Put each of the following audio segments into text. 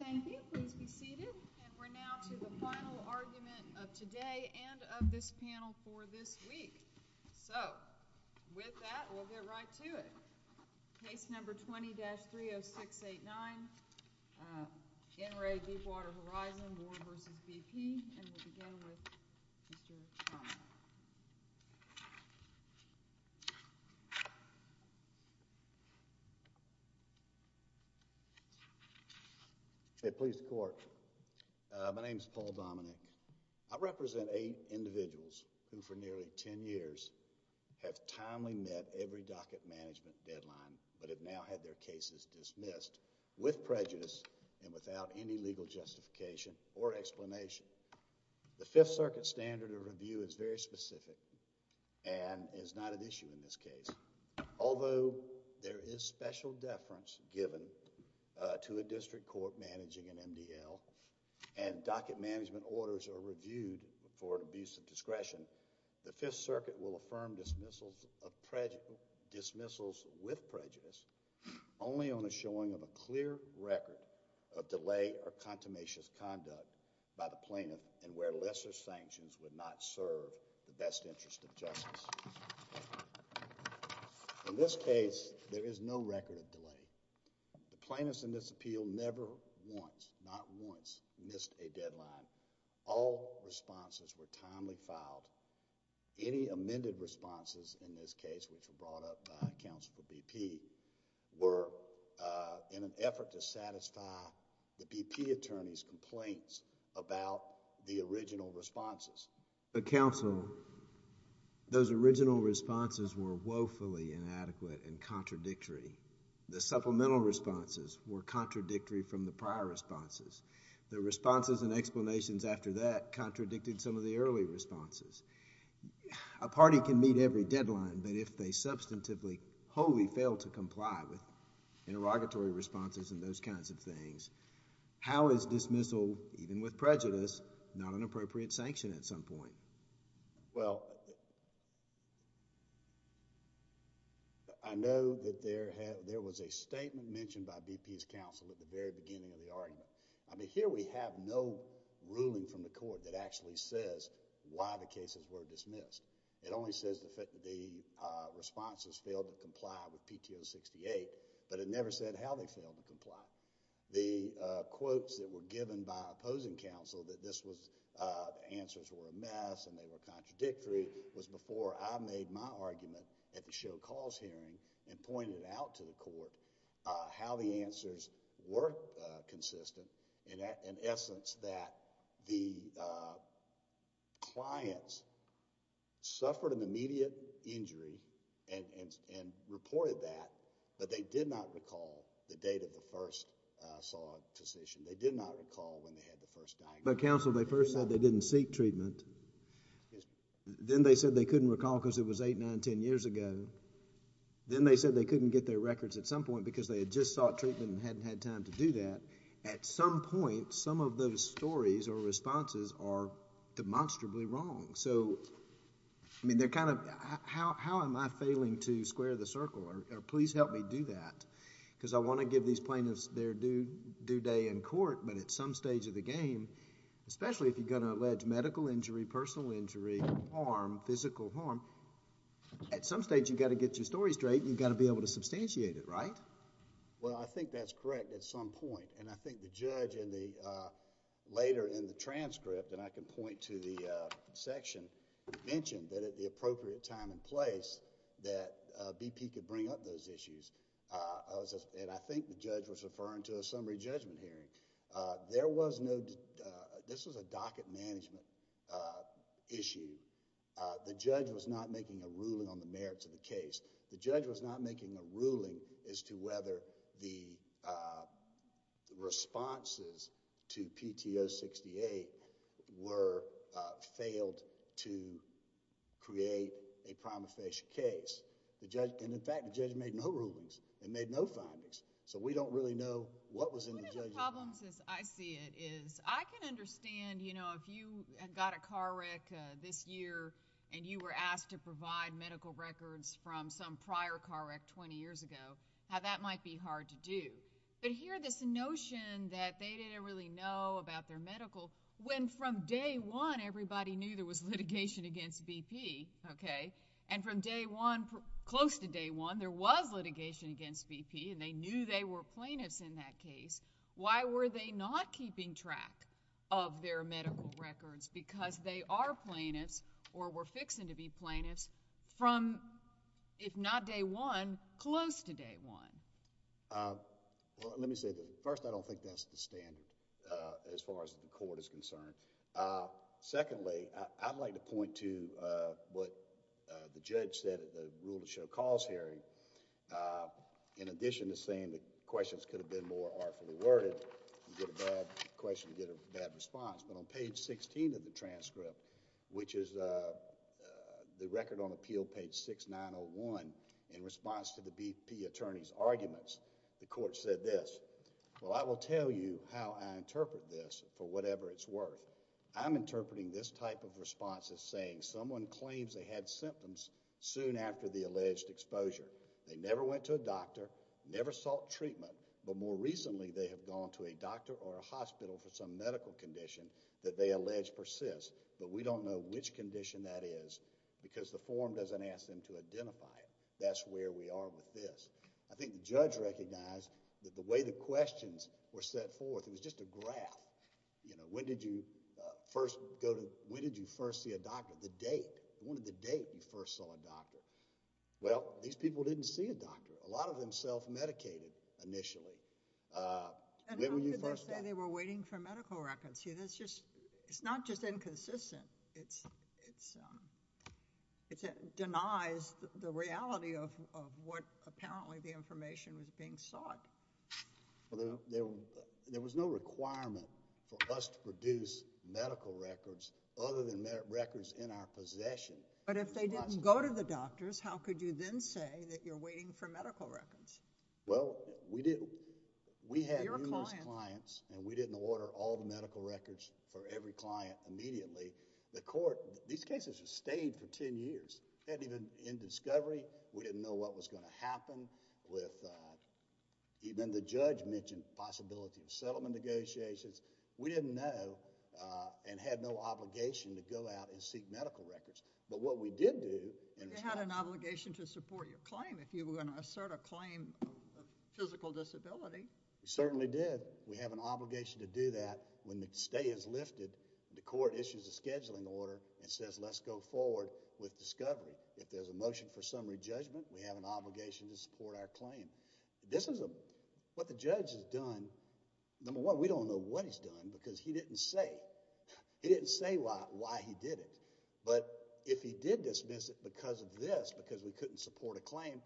Thank you. Please be seated. And we're now to the final argument of today and of this panel for this week. So with that, we'll get right to it. Case number 20-30689, NRA Deepwater Horizon, Ward v. BP, and we'll begin with Mr. Turner. Hey, please support. My name is Paul Dominick. I represent eight individuals who for nearly ten years have timely met every docket management deadline but have now had their cases dismissed with prejudice and without any legal justification or explanation. The Fifth Circuit standard of review is very specific and is not an issue in this case. Although there is special deference given to a district court managing an MDL and docket management orders are reviewed for abuse of discretion, the Fifth Circuit will affirm dismissals with prejudice only on the showing of a clear record of delay or contumacious conduct by the plaintiff and where lesser sanctions would not serve the best interest of justice. In this case, there is no record of delay. The plaintiffs in this appeal never once, not once, missed a deadline. All responses were timely filed. Any amended responses in this case which were brought up by counsel to BP were in an effort to satisfy the BP attorney's complaints about the original responses. But counsel, those original responses were woefully inadequate and contradictory. The supplemental responses were contradictory from the prior responses. The responses and explanations after that contradicted some of the early responses. A party can meet every deadline, but if they substantively wholly fail to comply with interrogatory responses and those kinds of things, how is dismissal, even with prejudice, not an appropriate sanction at some point? Well, I know that there was a statement mentioned by BP's counsel at the very beginning of the hearing that said that all cases were dismissed. It only says the responses failed to comply with PTO 68, but it never said how they failed to comply. The quotes that were given by opposing counsel that the answers were a mess and they were contradictory was before I made my argument at the show cause hearing and pointed out to the court how the answers were consistent in essence that the clients suffered an immediate injury and reported that, but they did not recall the date of the first saw a physician. They did not recall when they had the first diagnosis. But counsel, they first said they didn't seek treatment. Yes. Then they said they couldn't recall because it was 8, 9, 10 years ago. Then they said they couldn't get their records at some point because they had just sought treatment and at some point some of those stories or responses are demonstrably wrong. So, I mean, they're kind of, how am I failing to square the circle or please help me do that because I want to give these plaintiffs their due day in court, but at some stage of the game, especially if you're going to allege medical injury, personal injury, harm, physical harm, at some stage you've got to get your story straight and you've got to be able to substantiate it, right? Well, I think that's correct at some point and I think the judge later in the transcript and I can point to the section mentioned that at the appropriate time and place that BP could bring up those issues. I think the judge was referring to a summary judgment hearing. There was no... this was a docket management issue. The judge was not making a ruling on the merits of the case. The judge was not making a ruling as to whether the responses to PTO 68 were... failed to create a prima facie case. In fact, the judge made no rulings and made no findings. So, we don't really know what was in the judgment..... One of the problems as I see it is I can understand, you know, if you got a car wreck this year and you were asked to provide medical records from some prior car wreck 20 years ago, how that might be hard to do. But here this notion that they didn't really know about their medical... when from day one everybody knew there was litigation against BP, okay, and from day one, close to day one, there was litigation against BP and they knew they were plaintiffs in that case, why were they not keeping track of their medical records? Because they are plaintiffs or were fixing to be plaintiffs from, if not day one, close to day one... Well, let me say this. First, I don't think that's the standard as far as the court is concerned. Secondly, I'd like to point to what the judge said at the rule of show cause hearing. In addition to saying the questions could have been more artfully worded, you can see in the transcript, which is the record on appeal page 6901 in response to the BP attorney's arguments, the court said this, well, I will tell you how I interpret this for whatever it's worth. I'm interpreting this type of response as saying someone claims they had symptoms soon after the alleged exposure. They never went to a doctor, never sought treatment, but more recently they have gone to a doctor or a hospital for some medical condition that they allege persists, but we don't know which condition that is because the form doesn't ask them to identify it. That's where we are with this. I think the judge recognized that the way the questions were set forth, it was just a graph. When did you first go to... when did you first see a doctor? The date. What was the date you first saw a doctor? Well, these people didn't see a doctor. A lot of them self-medicated initially. How could they say they were waiting for medical records? It's not just inconsistent. It denies the reality of what apparently the information was being sought. There was no requirement for us to produce medical records other than records in our possession. But if they didn't go to the doctors, how could you then say that you're waiting for medical records? Well, we had numerous clients and we didn't order all the medical records for every client immediately. The court... these cases have stayed for ten years. They hadn't even been in discovery. We didn't know what was going to happen. Even the judge mentioned possibility of settlement negotiations. We didn't know and had no obligation to go out and seek medical records. But what we did do... But you had an obligation to support your claim if you were going to assert a claim of physical disability. We certainly did. We have an obligation to do that when the stay is lifted and the court issues a scheduling order and says, let's go forward with discovery. If there's a motion for summary judgment, we have an obligation to support our claim. This is what the judge has done. Number one, we don't know what he's done because he didn't say. He didn't dismiss it because of this, because we couldn't support a claim.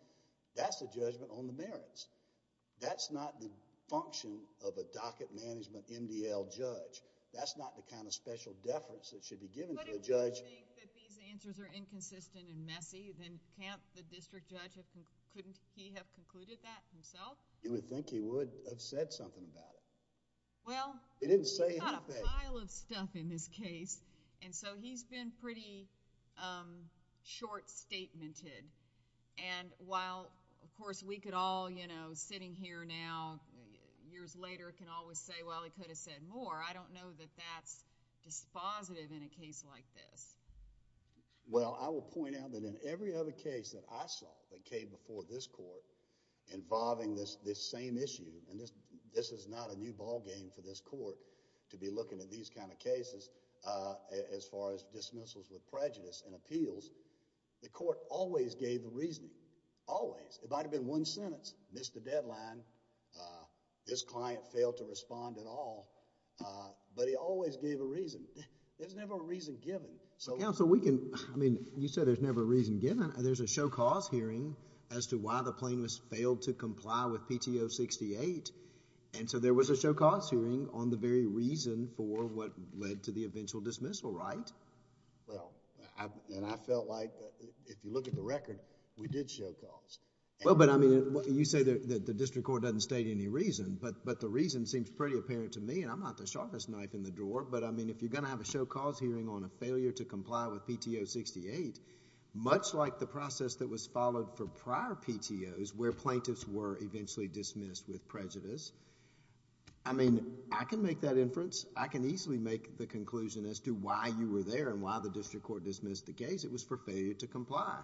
That's the judgment on the merits. That's not the function of a docket management MDL judge. That's not the kind of special deference that should be given to the judge. But if you think that these answers are inconsistent and messy, then can't the district judge... couldn't he have concluded that himself? You would think he would have said something about it. Well... He didn't say anything. There's a pile of stuff in this case. He's been pretty short-statemented. While, of course, we could all sitting here now, years later, can always say, well, he could have said more. I don't know that that's dispositive in a case like this. Well, I will point out that in every other case that I saw that came before this court involving this same issue, and this is not a new ballgame for this kind of cases as far as dismissals with prejudice and appeals, the court always gave the reason, always. It might have been one sentence, missed the deadline, this client failed to respond at all, but he always gave a reason. There's never a reason given. Counsel, we can... I mean, you said there's never a reason given. There's a show cause hearing as to why the plaintiff failed to comply with PTO 68 or what led to the eventual dismissal, right? Well, and I felt like if you look at the record, we did show cause. Well, but I mean, you say that the district court doesn't state any reason, but the reason seems pretty apparent to me, and I'm not the sharpest knife in the drawer, but I mean, if you're going to have a show cause hearing on a failure to comply with PTO 68, much like the process that was followed for prior PTOs where plaintiffs were eventually dismissed with prejudice, I mean, I can make that inference. I can easily make the conclusion as to why you were there and why the district court dismissed the case. It was for failure to comply.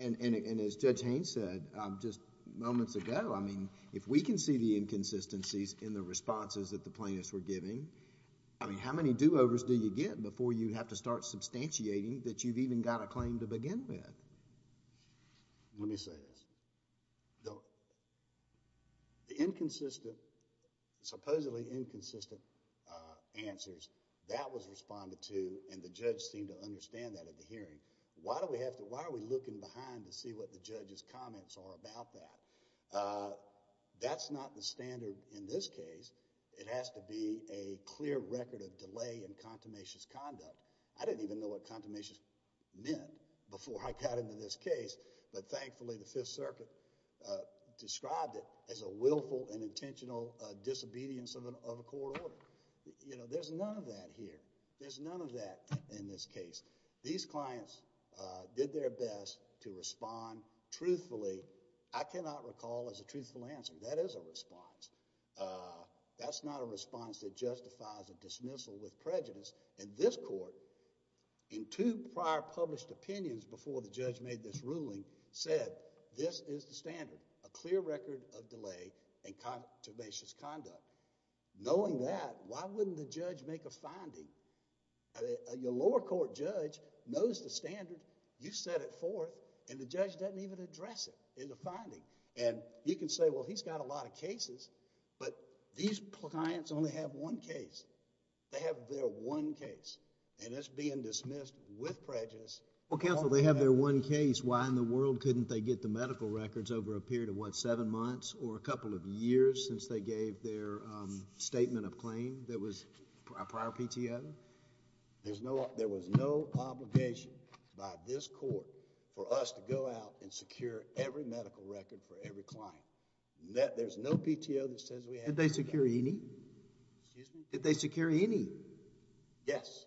As Judge Haynes said just moments ago, I mean, if we can see the inconsistencies in the responses that the plaintiffs were giving, I mean, how many do-overs do you get before you have to start substantiating that you've even got a claim to begin with? Let me say this. The inconsistent, supposedly inconsistent answers, that was responded to, and the judge seemed to understand that at the hearing. Why are we looking behind to see what the judge's comments are about that? That's not the standard in this case. It has to be a clear record of delay in contemnation's conduct. I didn't even know what contemnation meant before I got into this case, but thankfully, the Fifth Circuit described it as a willful and intentional disobedience of a court order. There's none of that here. There's none of that in this case. These clients did their best to respond truthfully. I cannot recall as a truthful answer, that is a response. That's not a response that justifies a case. The judge's opinions before the judge made this ruling said, this is the standard, a clear record of delay in contemnation's conduct. Knowing that, why wouldn't the judge make a finding? Your lower court judge knows the standard, you set it forth, and the judge doesn't even address it in the finding. You can say, well, he's got a lot of cases, but these clients only have one case. They have their one case, and it's being dismissed with prejudice. Counsel, they have their one case. Why in the world couldn't they get the medical records over a period of what, seven months or a couple of years since they gave their statement of claim that was a prior PTO? There was no obligation by this court for us to go out and secure every medical record for every client. There's no PTO that says we have... Did they secure any? Excuse me? Did they secure any? Yes,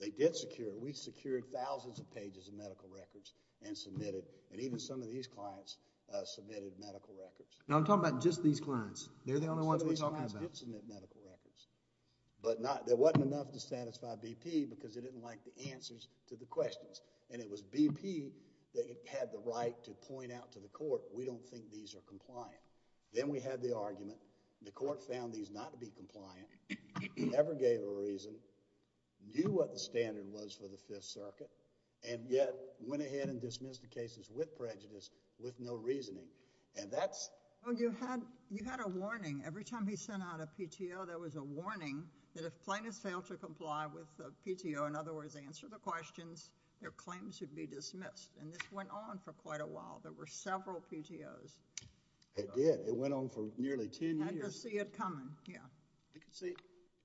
they did secure. We secured thousands of pages of medical records and submitted, and even some of these clients submitted medical records. Now, I'm talking about just these clients. They're the only ones we're talking about. Some of these clients did submit medical records, but there wasn't enough to satisfy BP because they didn't like the answers to the questions. It was BP that had the right to point out to the court, we don't think these are compliant. Then we had the argument, the court found these not to be compliant, and the PTO, for whatever reason, knew what the standard was for the Fifth Circuit, and yet went ahead and dismissed the cases with prejudice, with no reasoning, and that's... Well, you had a warning. Every time he sent out a PTO, there was a warning that if plaintiffs failed to comply with a PTO, in other words, answer the questions, their claim should be dismissed, and this went on for quite a while. There were several PTOs. It did. It went on for nearly 10 years. I could see it coming. Yeah. See,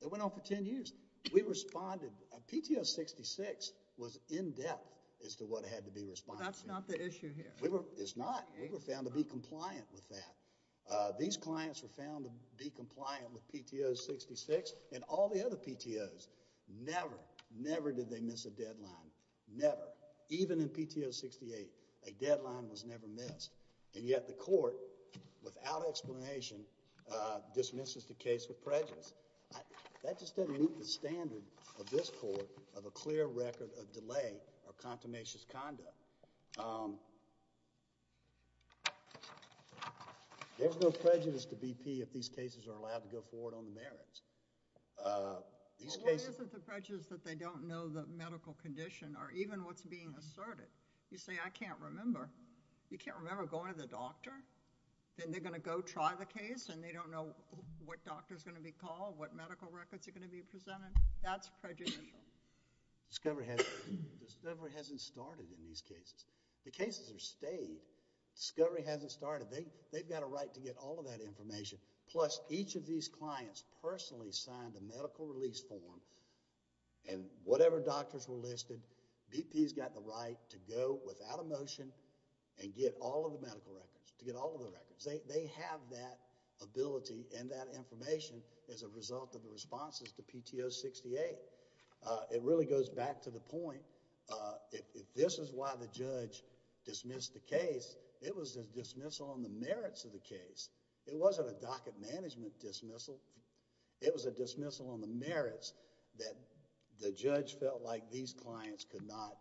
it went on for 10 years. We responded... PTO 66 was in-depth as to what had to be responded to. That's not the issue here. It's not. We were found to be compliant with that. These clients were found to be compliant with PTO 66, and all the other PTOs, never, never did they miss a deadline, never. Even in PTO 68, a deadline was never missed, and yet the court, without explanation, dismisses the case with prejudice. That just doesn't meet the standard of this court of a clear record of delay or contumacious conduct. There's no prejudice to BP if these cases are allowed to go forward on the merits. Well, what is the prejudice that they don't know the medical condition or even what's being asserted? You say, I can't remember. You can't remember going to the doctor? Then they're going to go try the case, and they don't know what doctor's going to be called, what medical records are going to be presented? That's prejudicial. Discovery hasn't started in these cases. The cases are stayed. Discovery hasn't started. They've got a right to get all of that information. Plus, each of these clients personally signed the medical release form, and whatever doctors were listed, BP's got the right to go without a motion and get all of the medical records, to get all of the records. They have that ability and that information as a result of the responses to PTO 68. It really goes back to the point, if this is why the judge dismissed the case, it was a dismissal on the merits of the case. It wasn't a docket management dismissal. It was a dismissal on the merits that the judge felt like these clients could not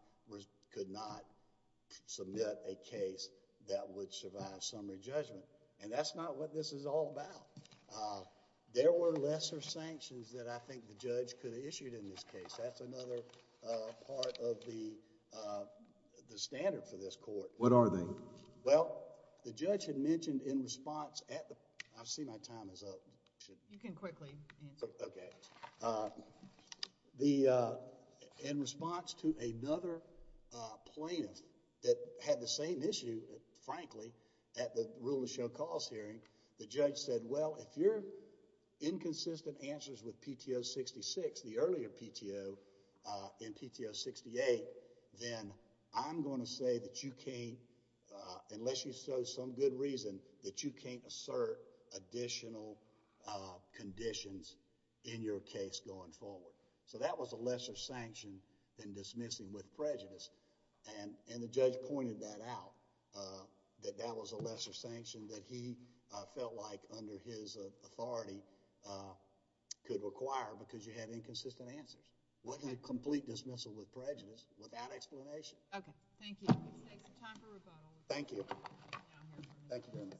submit a case that would survive summary judgment. That's not what this is all about. There were lesser sanctions that I think the judge could have issued in this case. That's another part of the standard for this court. What are they? Well, the judge had mentioned in response... I see my time is up. You can quickly answer. Okay. In response to another plaintiff that had the same issue, frankly, at the rule of show cause hearing, the judge said, well, if you're inconsistent answers with PTO 66, the earlier PTO in PTO 68, then I'm going to say that you can't, unless you show some good reason, that you can't assert additional conditions in your case going forward. That was a lesser sanction than dismissing with prejudice. The judge pointed that out, that that was a lesser sanction that he felt like under his authority could require because you have inconsistent answers. It wasn't a complete dismissal with prejudice without explanation. Okay. Thank you. Time for rebuttal. Thank you. Thank you very much.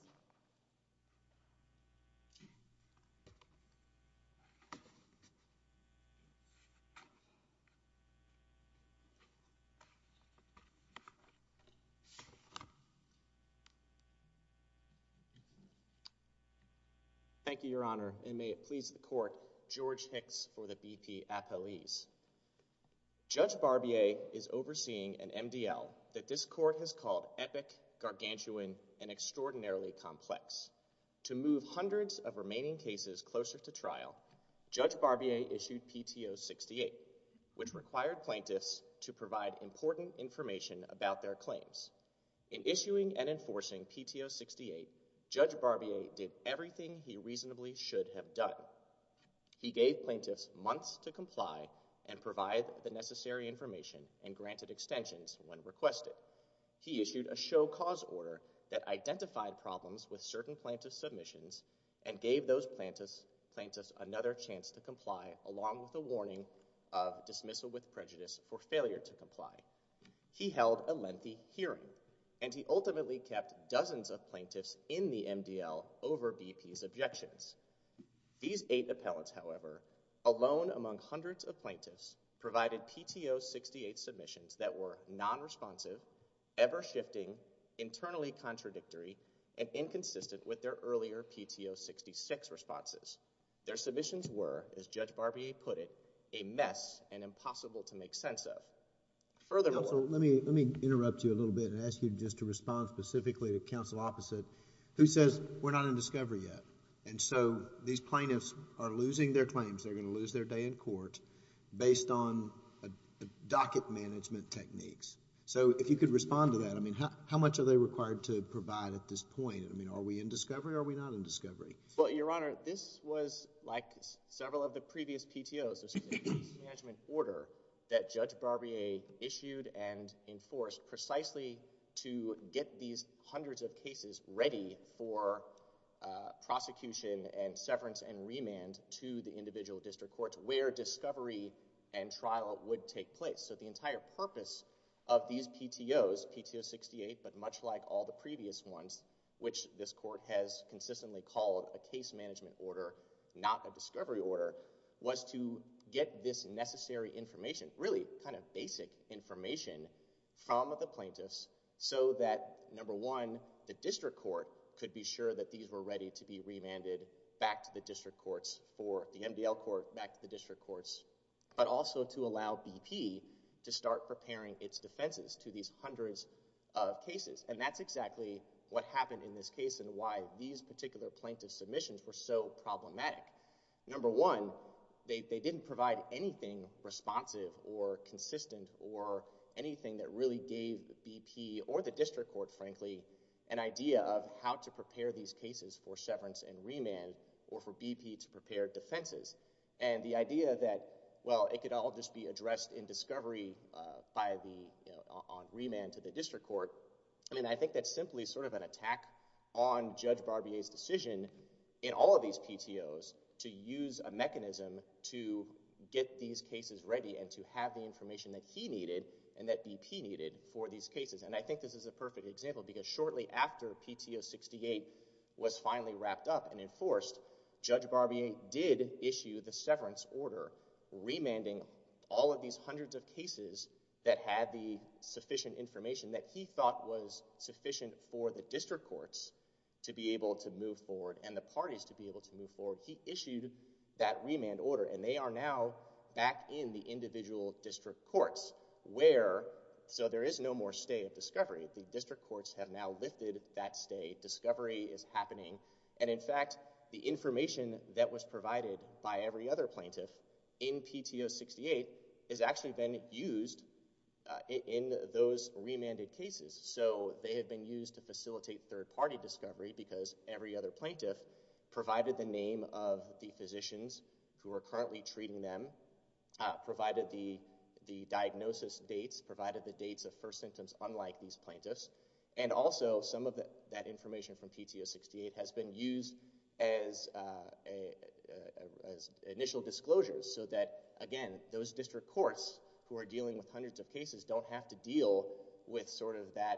Thank you, Your Honor. And may it please the court, George Hicks for the BP appellees. Judge Barbier is overseeing an MDL that this court has called epic, gargantuan, and extraordinarily complex. To move hundreds of remaining cases closer to trial, Judge Barbier issued PTO 68, which required plaintiffs to provide important information about their claims. In issuing and enforcing PTO 68, Judge Barbier did everything he reasonably should have done. He gave plaintiffs months to comply and provide the necessary information and granted extensions when requested. He issued a show cause order that identified problems with certain plaintiff submissions and gave those plaintiffs another chance to comply along with a warning of dismissal with prejudice or failure to comply. He held a lengthy hearing, and he ultimately kept dozens of plaintiffs in the MDL over BP's objections. These eight appellants, however, alone among hundreds of plaintiffs, provided PTO 68 submissions that were non-responsive, ever-shifting, internally contradictory, and inconsistent with their earlier PTO 66 responses. Their submissions were, as Judge Barbier put it, a mess and impossible to make sense of. Furthermore... I'm going to turn specifically to Counsel Opposite, who says, we're not in discovery yet. And so, these plaintiffs are losing their claims. They're going to lose their day in court based on docket management techniques. So, if you could respond to that. I mean, how much are they required to provide at this point? I mean, are we in discovery or are we not in discovery? Well, Your Honor, this was like several of the previous PTOs. This was a case management order that Judge Barbier issued and enforced precisely to get these hundreds of cases ready for prosecution and severance and remand to the individual district courts where discovery and trial would take place. So, the entire purpose of these PTOs, PTO 68, but much like all the previous ones, which this court has consistently called a case management order, not a discovery order, was to get this necessary information, really kind of basic information, from the plaintiffs so that, number one, the district court could be sure that these were ready to be remanded back to the district courts or the MDL court back to the district courts, but also to allow BP to start preparing its defenses to these hundreds of cases. And that's exactly what happened in this case and why these particular plaintiff submissions were so problematic. Number one, they didn't provide anything responsive or consistent or anything that really gave BP or the district court, frankly, an idea of how to prepare these cases for severance and remand or for BP to prepare defenses. And the idea that, well, it could all just be addressed in discovery on remand to the district court, I mean, I think that's simply sort of an inefficient decision in all of these PTOs to use a mechanism to get these cases ready and to have the information that he needed and that BP needed for these cases. And I think this is a perfect example because shortly after PTO 68 was finally wrapped up and enforced, Judge Barbier did issue the severance order remanding all of these hundreds of cases that had the sufficient information that he thought was sufficient for the district courts to be able to move forward and the parties to be able to move forward. He issued that remand order and they are now back in the individual district courts where, so there is no more stay at discovery. The district courts have now lifted that stay. Discovery is happening. And in fact, the information that was provided by every other plaintiff in PTO 68 has actually been used in those remanded cases. So they have been used to facilitate third-party discovery because every other plaintiff provided the name of the physicians who are currently treating them, provided the diagnosis dates, provided the dates of first symptoms unlike these plaintiffs, and also some of that information from PTO 68 has been used as initial disclosures so that, again, those district courts who are dealing with hundreds of cases don't have to deal with sort of that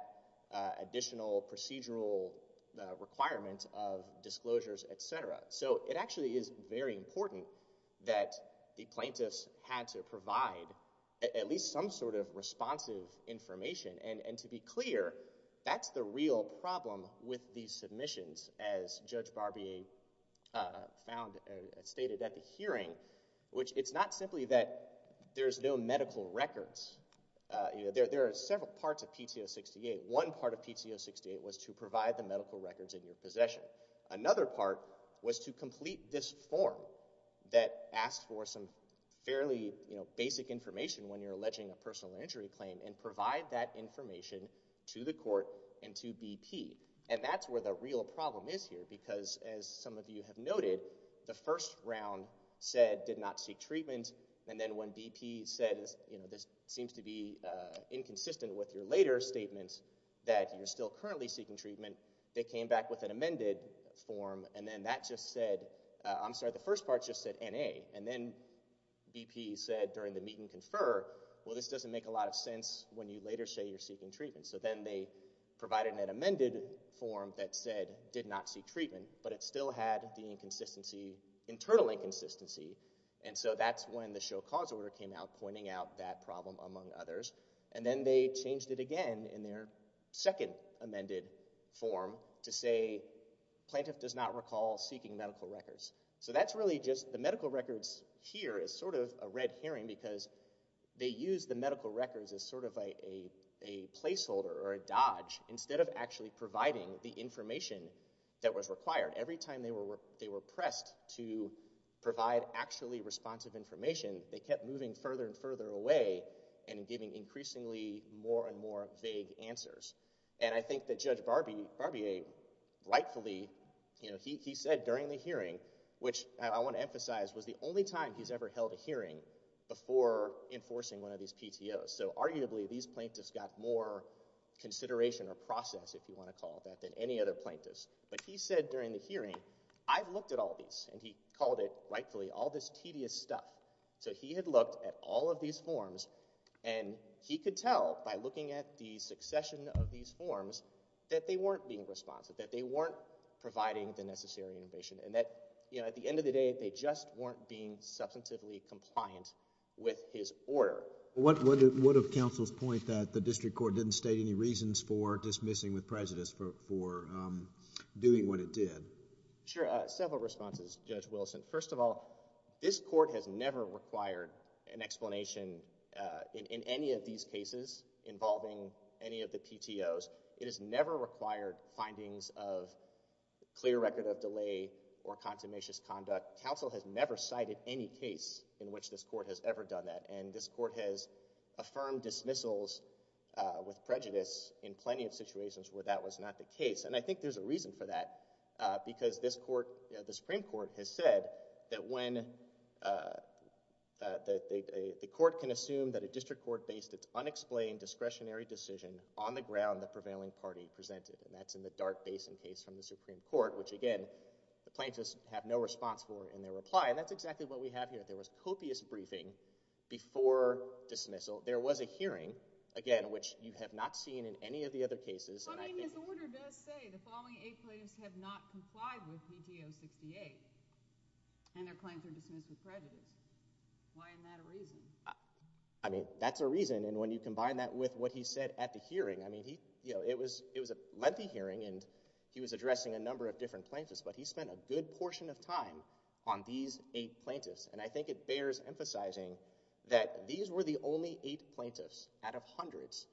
additional procedural requirements of disclosures, et cetera. So it actually is very important that the plaintiffs had to provide at least some sort of responsive information. And to be clear, that's the real problem with these submissions, as Judge Barbier found and stated at the hearing, which it's not simply that there's no medical records. There are several parts of PTO 68. One part of PTO 68 was to provide the medical records in your possession. Another part was to complete this form that asked for some fairly basic information when you're alleging a personal injury claim and provide that information to the court and to BP. And that's where the real problem is here because, as some of you have noted, the first round said did not seek treatment. And then when BP said, you know, this seems to be inconsistent with your later statements that you're still currently seeking treatment, they came back with an amended form. And then that just said, I'm sorry, the first part just said N.A. And then BP said during the meet and confer, well, this doesn't make a lot of sense when you later say you're seeking treatment. So then they provided an amended form that said did not seek treatment, but it still had the inconsistency, internal inconsistency. And so that's when the show cause order came out pointing out that problem among others. And then they changed it again in their second amended form to say plaintiff does not recall seeking medical records. So that's really just the medical records here is sort of a red herring because they used the medical records as sort of a placeholder or a dodge instead of actually providing the information that was required. Every time they were pressed to provide actually responsive information, they kept moving further and further away and giving increasingly more and more vague answers. And I think that Judge Barbier rightfully, you know, he said during the hearing, which I want to emphasize was the only time he's ever held a hearing before enforcing one of these PTOs. So arguably these plaintiffs got more consideration or process, if you want to call it that, than any other plaintiffs. But he said during the hearing, I've looked at all these, and he called it, rightfully, all this tedious stuff. So he had looked at all of these forms and he could tell by looking at the succession of these forms that they weren't being responsive, that they weren't providing the necessary information, and that, you know, at the end of the day they just weren't being substantively compliant with his order. What of counsel's point that the district court didn't state any reasons for dismissing with prejudice for doing what it did? Sure. Several responses, Judge Wilson. First of all, this court has never required an explanation in any of these cases involving any of the PTOs. It has never required findings of clear record of delay or consummations conduct. Counsel has never cited any case in which this court has ever done that. And this court has affirmed dismissals with prejudice in plenty of situations where that was not the case. And I think there's a reason for that, because this court, you know, the Supreme Court has said that when the court can assume that a district court based its unexplained discretionary decision on the ground the prevailing party presented. And that's in the Dart Basin case from the Supreme Court, which, again, the plaintiffs have no response for in their reply. And that's exactly what we have here. There was copious briefing before dismissal. There was a hearing, again, which you have not seen in any of the other cases. But, I mean, his order does say the following eight plaintiffs have not complied with PTO 68 and their claim for dismissal with prejudice. Why isn't that a reason? I mean, that's a reason. And when you combine that with what he said at the hearing, I mean, you know, it was a lengthy hearing, and he was addressing a number of different plaintiffs, but he spent a good portion of time on these eight plaintiffs. And I think it bears emphasizing that these were the only eight plaintiffs out of hundreds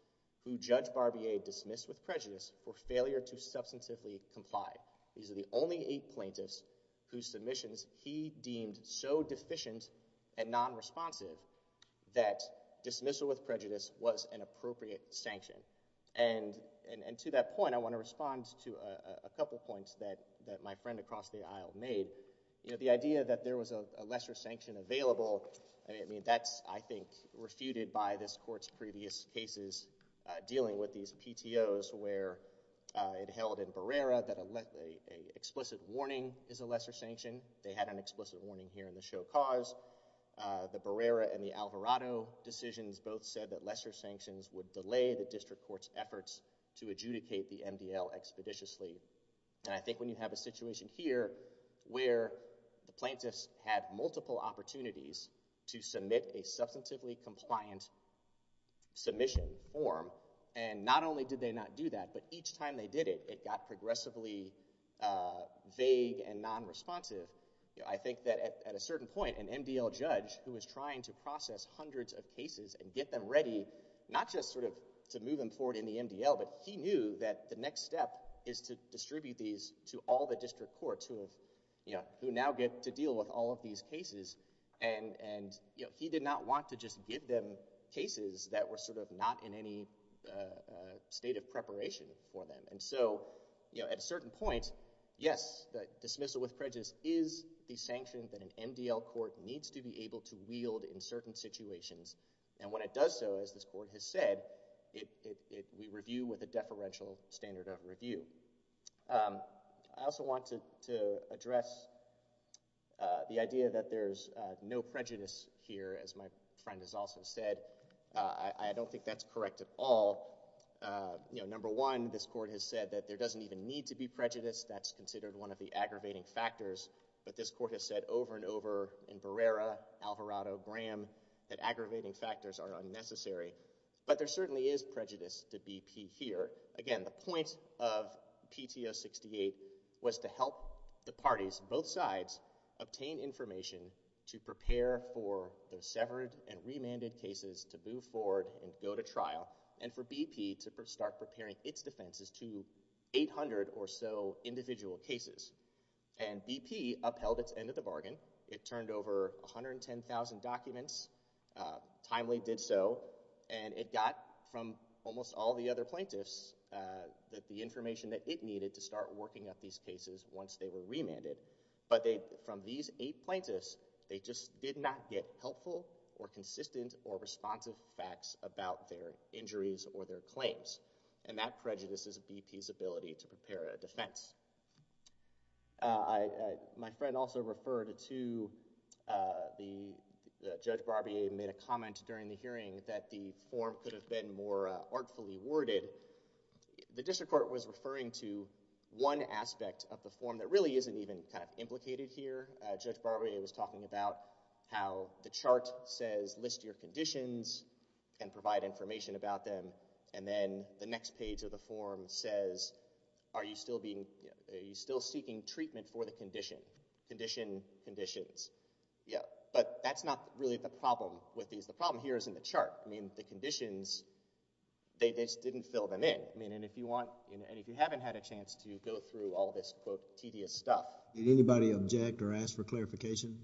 who Judge Barbier dismissed with prejudice for failure to substantively comply. These are the only eight plaintiffs whose submissions he deemed so deficient and nonresponsive that dismissal with prejudice was an appropriate sanction. And to that point, I want to respond to a couple points that my friend across the aisle made. You know, the idea that there was a lesser sanction available, I mean, that's, I think, refuted by this Court's previous cases dealing with these PTOs where it held in Barrera that an explicit warning is a lesser sanction. They had an explicit warning here in the show cause. The Barrera and the Alvarado decisions both said that lesser sanctions would delay the district court's efforts to adjudicate the MDL expeditiously. And I think when you have a situation here where the plaintiffs had multiple opportunities to submit a substantively compliant submission form, and not only did they not do that, but each time they did it, it got progressively vague and nonresponsive. I think that at a certain point, an MDL judge who was trying to process this, not just sort of to move him forward in the MDL, but he knew that the next step is to distribute these to all the district courts who now get to deal with all of these cases. And he did not want to just give them cases that were sort of not in any state of preparation for them. And so, you know, at a certain point, yes, the dismissal with prejudice is the sanction that an MDL court needs to be able to wield in certain situations. And when it does so, as this court has said, we review with a deferential standard of review. I also want to address the idea that there's no prejudice here, as my friend has also said. I don't think that's correct at all. You know, number one, this court has said that there doesn't even need to be prejudice. That's considered one of the aggravating factors. But this court has said over and over in Barrera, Alvarado, Graham, that aggravating factors are unnecessary. But there certainly is prejudice to BP here. Again, the point of PTO 68 was to help the parties, both sides, obtain information to prepare for those severed and remanded cases to move forward and go to trial, and for BP to start preparing its defenses to 800 or so individual cases. And BP upheld its end of the bargain. It turned over 110,000 documents, timely did so, and it got from almost all the other plaintiffs that the information that it needed to start working up these cases once they were remanded. But from these eight plaintiffs, they just did not get helpful or consistent or responsive facts about their injuries or their claims. And that prejudices BP's ability to prepare a defense. My friend also referred to the Judge Barbier made a comment during the hearing that the form could have been more artfully worded. The district court was referring to one aspect of the form that really isn't even kind of implicated here. Judge Barbier was talking about how the chart says list your conditions and provide information about them, and then the next page of the form says, are you still seeking treatment for the condition? Condition, conditions. Yeah, but that's not really the problem with these. The problem here is in the chart. I mean, the conditions, they just didn't fill them in. I mean, and if you want, and if you haven't had a chance to go through all this, quote, tedious stuff. Did anybody object or ask for clarification?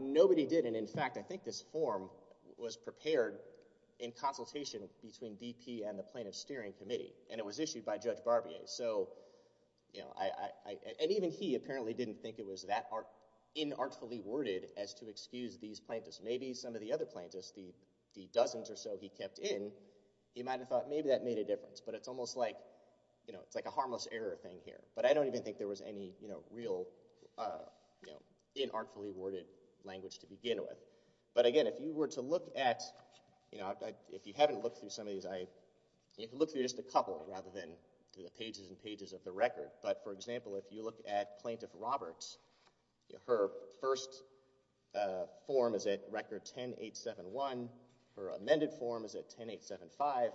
Nobody did, and in fact, I think this form was prepared in consultation between BP and the Plaintiff's Steering Committee, and it was issued by Judge Barbier. So, you know, and even he apparently didn't think it was that inartfully worded as to excuse these plaintiffs. Maybe some of the other plaintiffs, the dozens or so he kept in, he might have thought maybe that made a difference. But it's almost like, you know, it's like a harmless error thing here. But I don't even think there was any, you know, real, you know, inartfully worded language to begin with. But again, if you were to look at, you know, if you haven't looked through some of these, you can look through just a couple rather than through the pages and pages of the record. But, for example, if you look at Plaintiff Roberts, her first form is at record 10-871. Her amended form is at 10-875.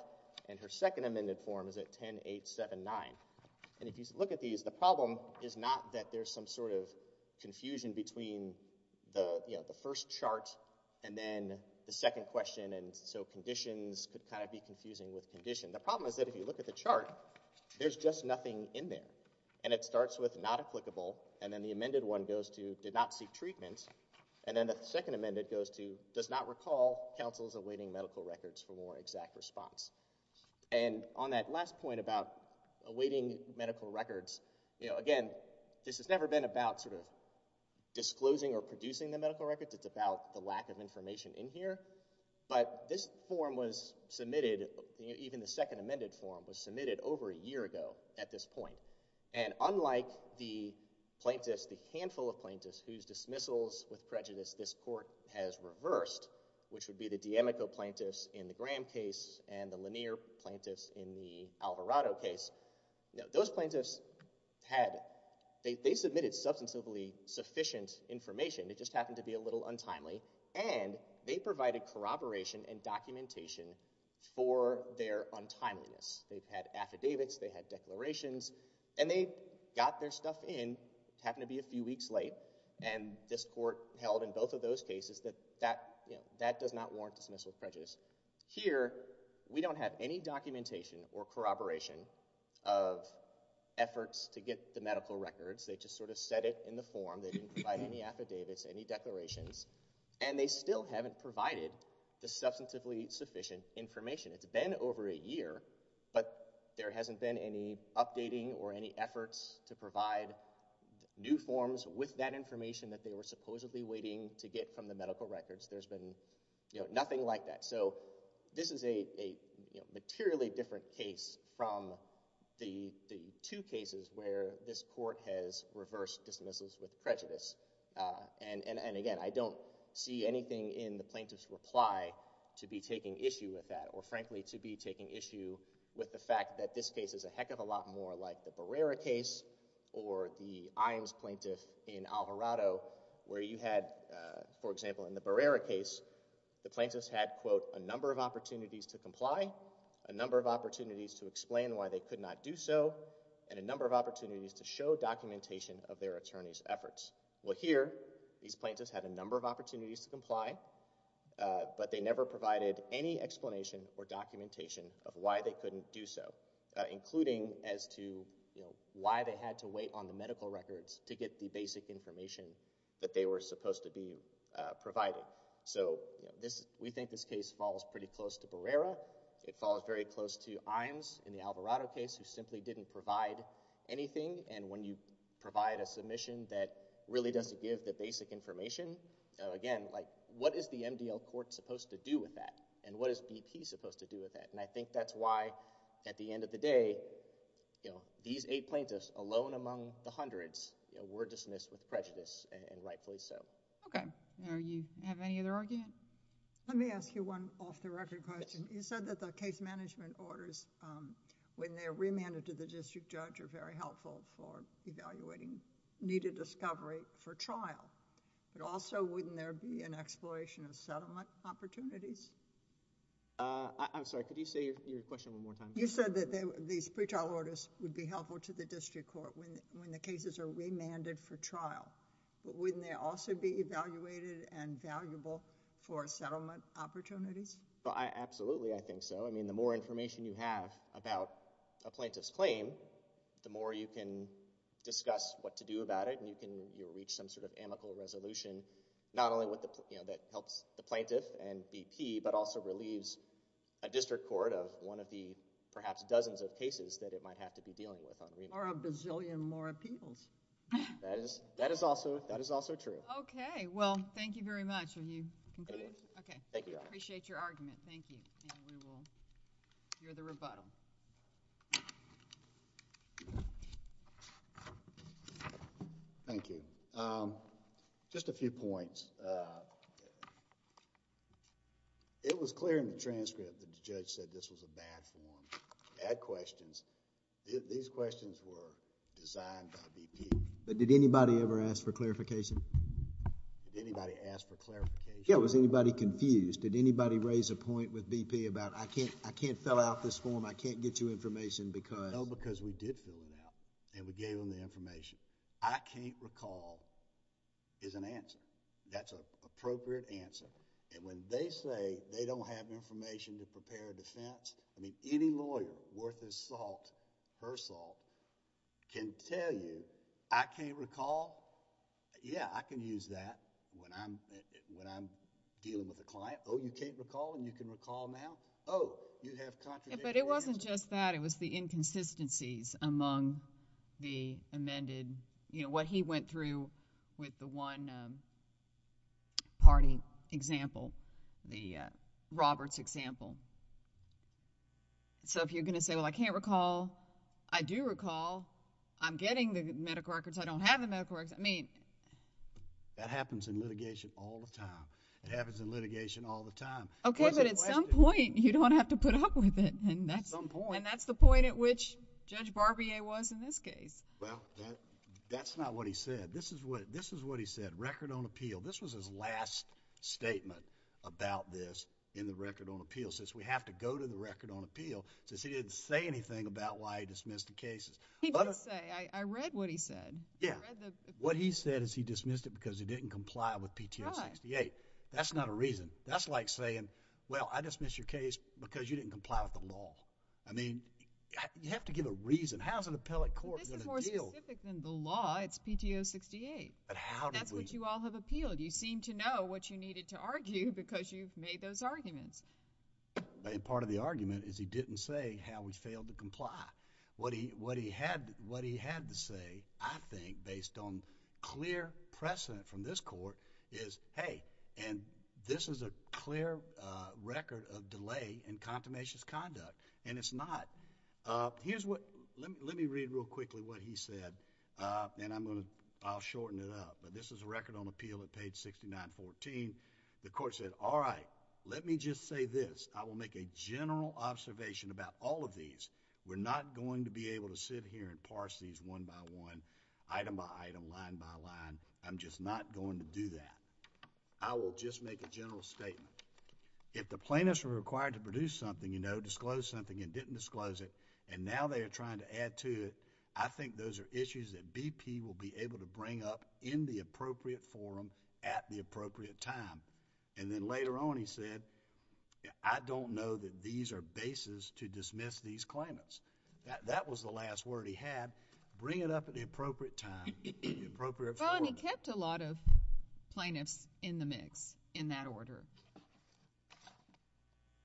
And her second amended form is at 10-879. And if you look at these, the problem is not that there's some sort of confusion between, you know, the first chart and then the second question. And so conditions could kind of be confusing with condition. The problem is that if you look at the chart, there's just nothing in there. And it starts with not applicable. And then the amended one goes to did not seek treatment. And then the second amended goes to does not recall counsels awaiting medical records for more exact response. And on that last point about awaiting medical records, you know, again, this has never been about sort of disclosing or producing the medical records. It's about the lack of information in here. But this form was submitted, even the second amended form, was submitted over a year ago at this point. And unlike the plaintiffs, the handful of plaintiffs, whose dismissals with prejudice this court has reversed, which would be the D'Amico plaintiffs in the Graham case and the Lanier plaintiffs in the Alvarado case, you know, those plaintiffs had – they submitted substantively sufficient information. It just happened to be a little untimely. And they provided corroboration and documentation for their untimeliness. They had affidavits. They had declarations. And they got their stuff in. It happened to be a few weeks late. And this court held in both of those cases that that does not warrant dismissal of prejudice. Here, we don't have any documentation or corroboration of efforts to get the medical records. They just sort of said it in the form. They didn't provide any affidavits, any declarations. And they still haven't provided the substantively sufficient information. It's been over a year, but there hasn't been any updating or any efforts to provide new forms with that information that they were supposedly waiting to get from the medical records. There's been nothing like that. So this is a materially different case from the two cases where this court has reversed dismissals with prejudice. And again, I don't see anything in the plaintiff's reply to be taking issue with that or frankly to be taking issue with the fact that this case is a heck of a lot more like the Barrera case or the Iams plaintiff in Alvarado where you had, for example, in the Barrera case, the plaintiffs had, quote, a number of opportunities to comply, a number of opportunities to explain why they could not do so, and a number of opportunities to show documentation of their attorney's efforts. Well, here, these plaintiffs had a number of opportunities to comply, but they never provided any explanation or documentation of why they couldn't do so, including as to why they had to wait on the medical records to get the basic information that they were supposed to be providing. So we think this case falls pretty close to Barrera. It falls very close to Iams in the Alvarado case who simply didn't provide anything. And when you provide a submission that really doesn't give the basic information, again, what is the MDL court supposed to do with that? And what is BP supposed to do with that? And I think that's why, at the end of the day, these eight plaintiffs, alone among the hundreds, were dismissed with prejudice, and rightfully so. Okay. Do you have any other argument? Let me ask you one off-the-record question. You said that the case management orders, when they're remanded to the district judge, are very helpful for evaluating needed discovery for trial. But also, wouldn't there be an exploration of settlement opportunities? I'm sorry, could you say your question one more time? You said that these pretrial orders would be helpful to the district court when the cases are remanded for trial. Wouldn't they also be evaluated and valuable for settlement opportunities? Absolutely, I think so. I mean, the more information you have about a plaintiff's claim, the more you can discuss what to do about it, and you'll reach some sort of amicable resolution, not only that helps the plaintiff and BP, but also relieves a district court of one of the, perhaps, dozens of cases that it might have to be dealing with on remand. Or a bazillion more appeals. That is also true. Okay. Well, thank you very much. Have you concluded? I did. Okay. Thank you, Your Honor. I appreciate your argument. Thank you. And we will hear the rebuttal. Thank you. Just a few points. It was clear in the transcript that the judge said this was a bad form, bad questions. These questions were designed by BP. But did anybody ever ask for clarification? Did anybody ask for clarification? Yeah, was anybody confused? Did anybody raise a point with BP about, I can't fill out this form, I can't get you information because... No, because we did fill it out, and we gave them the information. I can't recall is an answer. That's an appropriate answer. And when they say they don't have information to prepare a defense, I mean, any lawyer worth his salt, her salt, can tell you, I can't recall. Yeah, I can use that when I'm dealing with a client. Oh, you can't recall and you can recall now? Oh, you have contradictory... But it wasn't just that. It was the inconsistencies among the amended, you know, what he went through with the one party example, the Roberts example. So if you're going to say, well, I can't recall, I do recall, I'm getting the medical records, I don't have the medical records, I mean... That happens in litigation all the time. It happens in litigation all the time. Okay, but at some point, you don't have to put up with it. At some point. And that's the point at which Judge Barbier was in this case. Well, that's not what he said. This is what he said, record on appeal. This was his last statement about this in the record on appeal, since we have to go to the record on appeal, since he didn't say anything about why he dismissed the cases. He did say, I read what he said. Yeah. I read the... What he said is he dismissed it because he didn't comply with PTO 68. That's not a reason. That's like saying, well, I dismissed your case because you didn't comply with the law. I mean, you have to give a reason. How is an appellate court going to deal... This is more specific than the law. It's PTO 68. But how did we... That's what you all have appealed. You seem to know what you needed to argue because you've made those arguments. And part of the argument is he didn't say how we failed to comply. What he had to say, I think, based on clear precedent from this court, is, hey, and this is a clear record of delay and contumacious conduct, and it's not... Here's what... Let me read real quickly what he said, and I'm going to... I'll shorten it up. But this is a record on appeal at page 6914. The court said, all right, let me just say this. I will make a general observation about all of these. We're not going to be able to sit here and parse these one by one, item by item, line by line. I'm just not going to do that. I will just make a general statement. If the plaintiffs are required to produce something, you know, disclose something and didn't disclose it, and now they are trying to add to it, I think those are issues that BP will be able to bring up in the appropriate forum at the appropriate time. And then later on he said, I don't know that these are bases to dismiss these claimants. That was the last word he had, bring it up at the appropriate time, at the appropriate forum. But he kept a lot of plaintiffs in the mix in that order.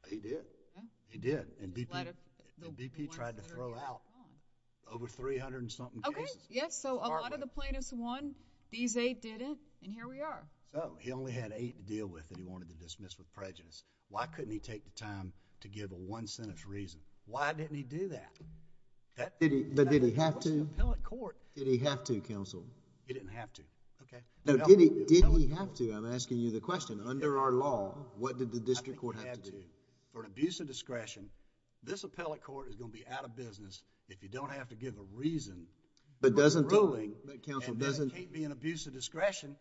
He did. He did. And BP tried to throw out over 300 and something cases. Okay. Yes. So a lot of the plaintiffs won. These eight didn't. And here we are. So, he only had eight to deal with that he wanted to dismiss with prejudice. Why couldn't he take the time to give a one-sentence reason? Why didn't he do that? But did he have to? Did he have to, Counsel? He didn't have to. Okay. No, did he have to? I'm asking you the question. Under our law, what did the district court have to do? I think he had to. For an abuse of discretion, this appellate court is going to be out of business if you don't have to give a reason. But doesn't... And that can't be an abuse of discretion.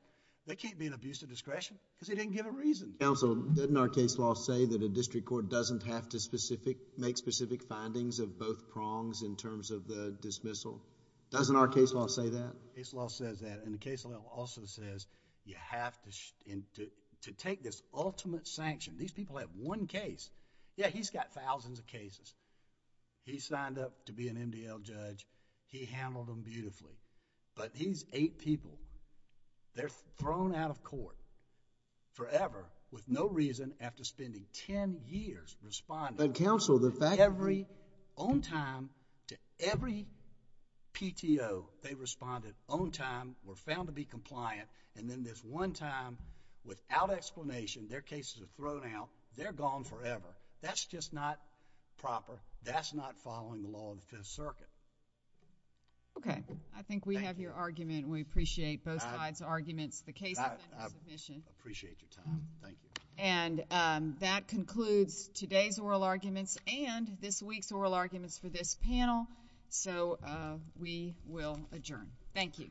That can't be an abuse of discretion because he didn't give a reason. Counsel, didn't our case law say that a district court doesn't have to... Doesn't our case law say that? Case law says that and the case law also says you have to take this ultimate sanction. These people have one case. Yeah, he's got thousands of cases. He signed up to be an MDL judge. He handled them beautifully. But these eight people, they're thrown out of court forever with no reason after spending ten years responding... But Counsel, the fact... own time to every PTO they responded, own time, were found to be compliant, and then this one time, without explanation, their cases are thrown out, they're gone forever. That's just not proper. That's not following the law of the Fifth Circuit. Okay. I think we have your argument and we appreciate both sides' arguments. The case... I appreciate your time. Thank you. And that concludes today's oral arguments and this week's oral arguments for this panel. So we will adjourn. Thank you. Thank you. Thank you.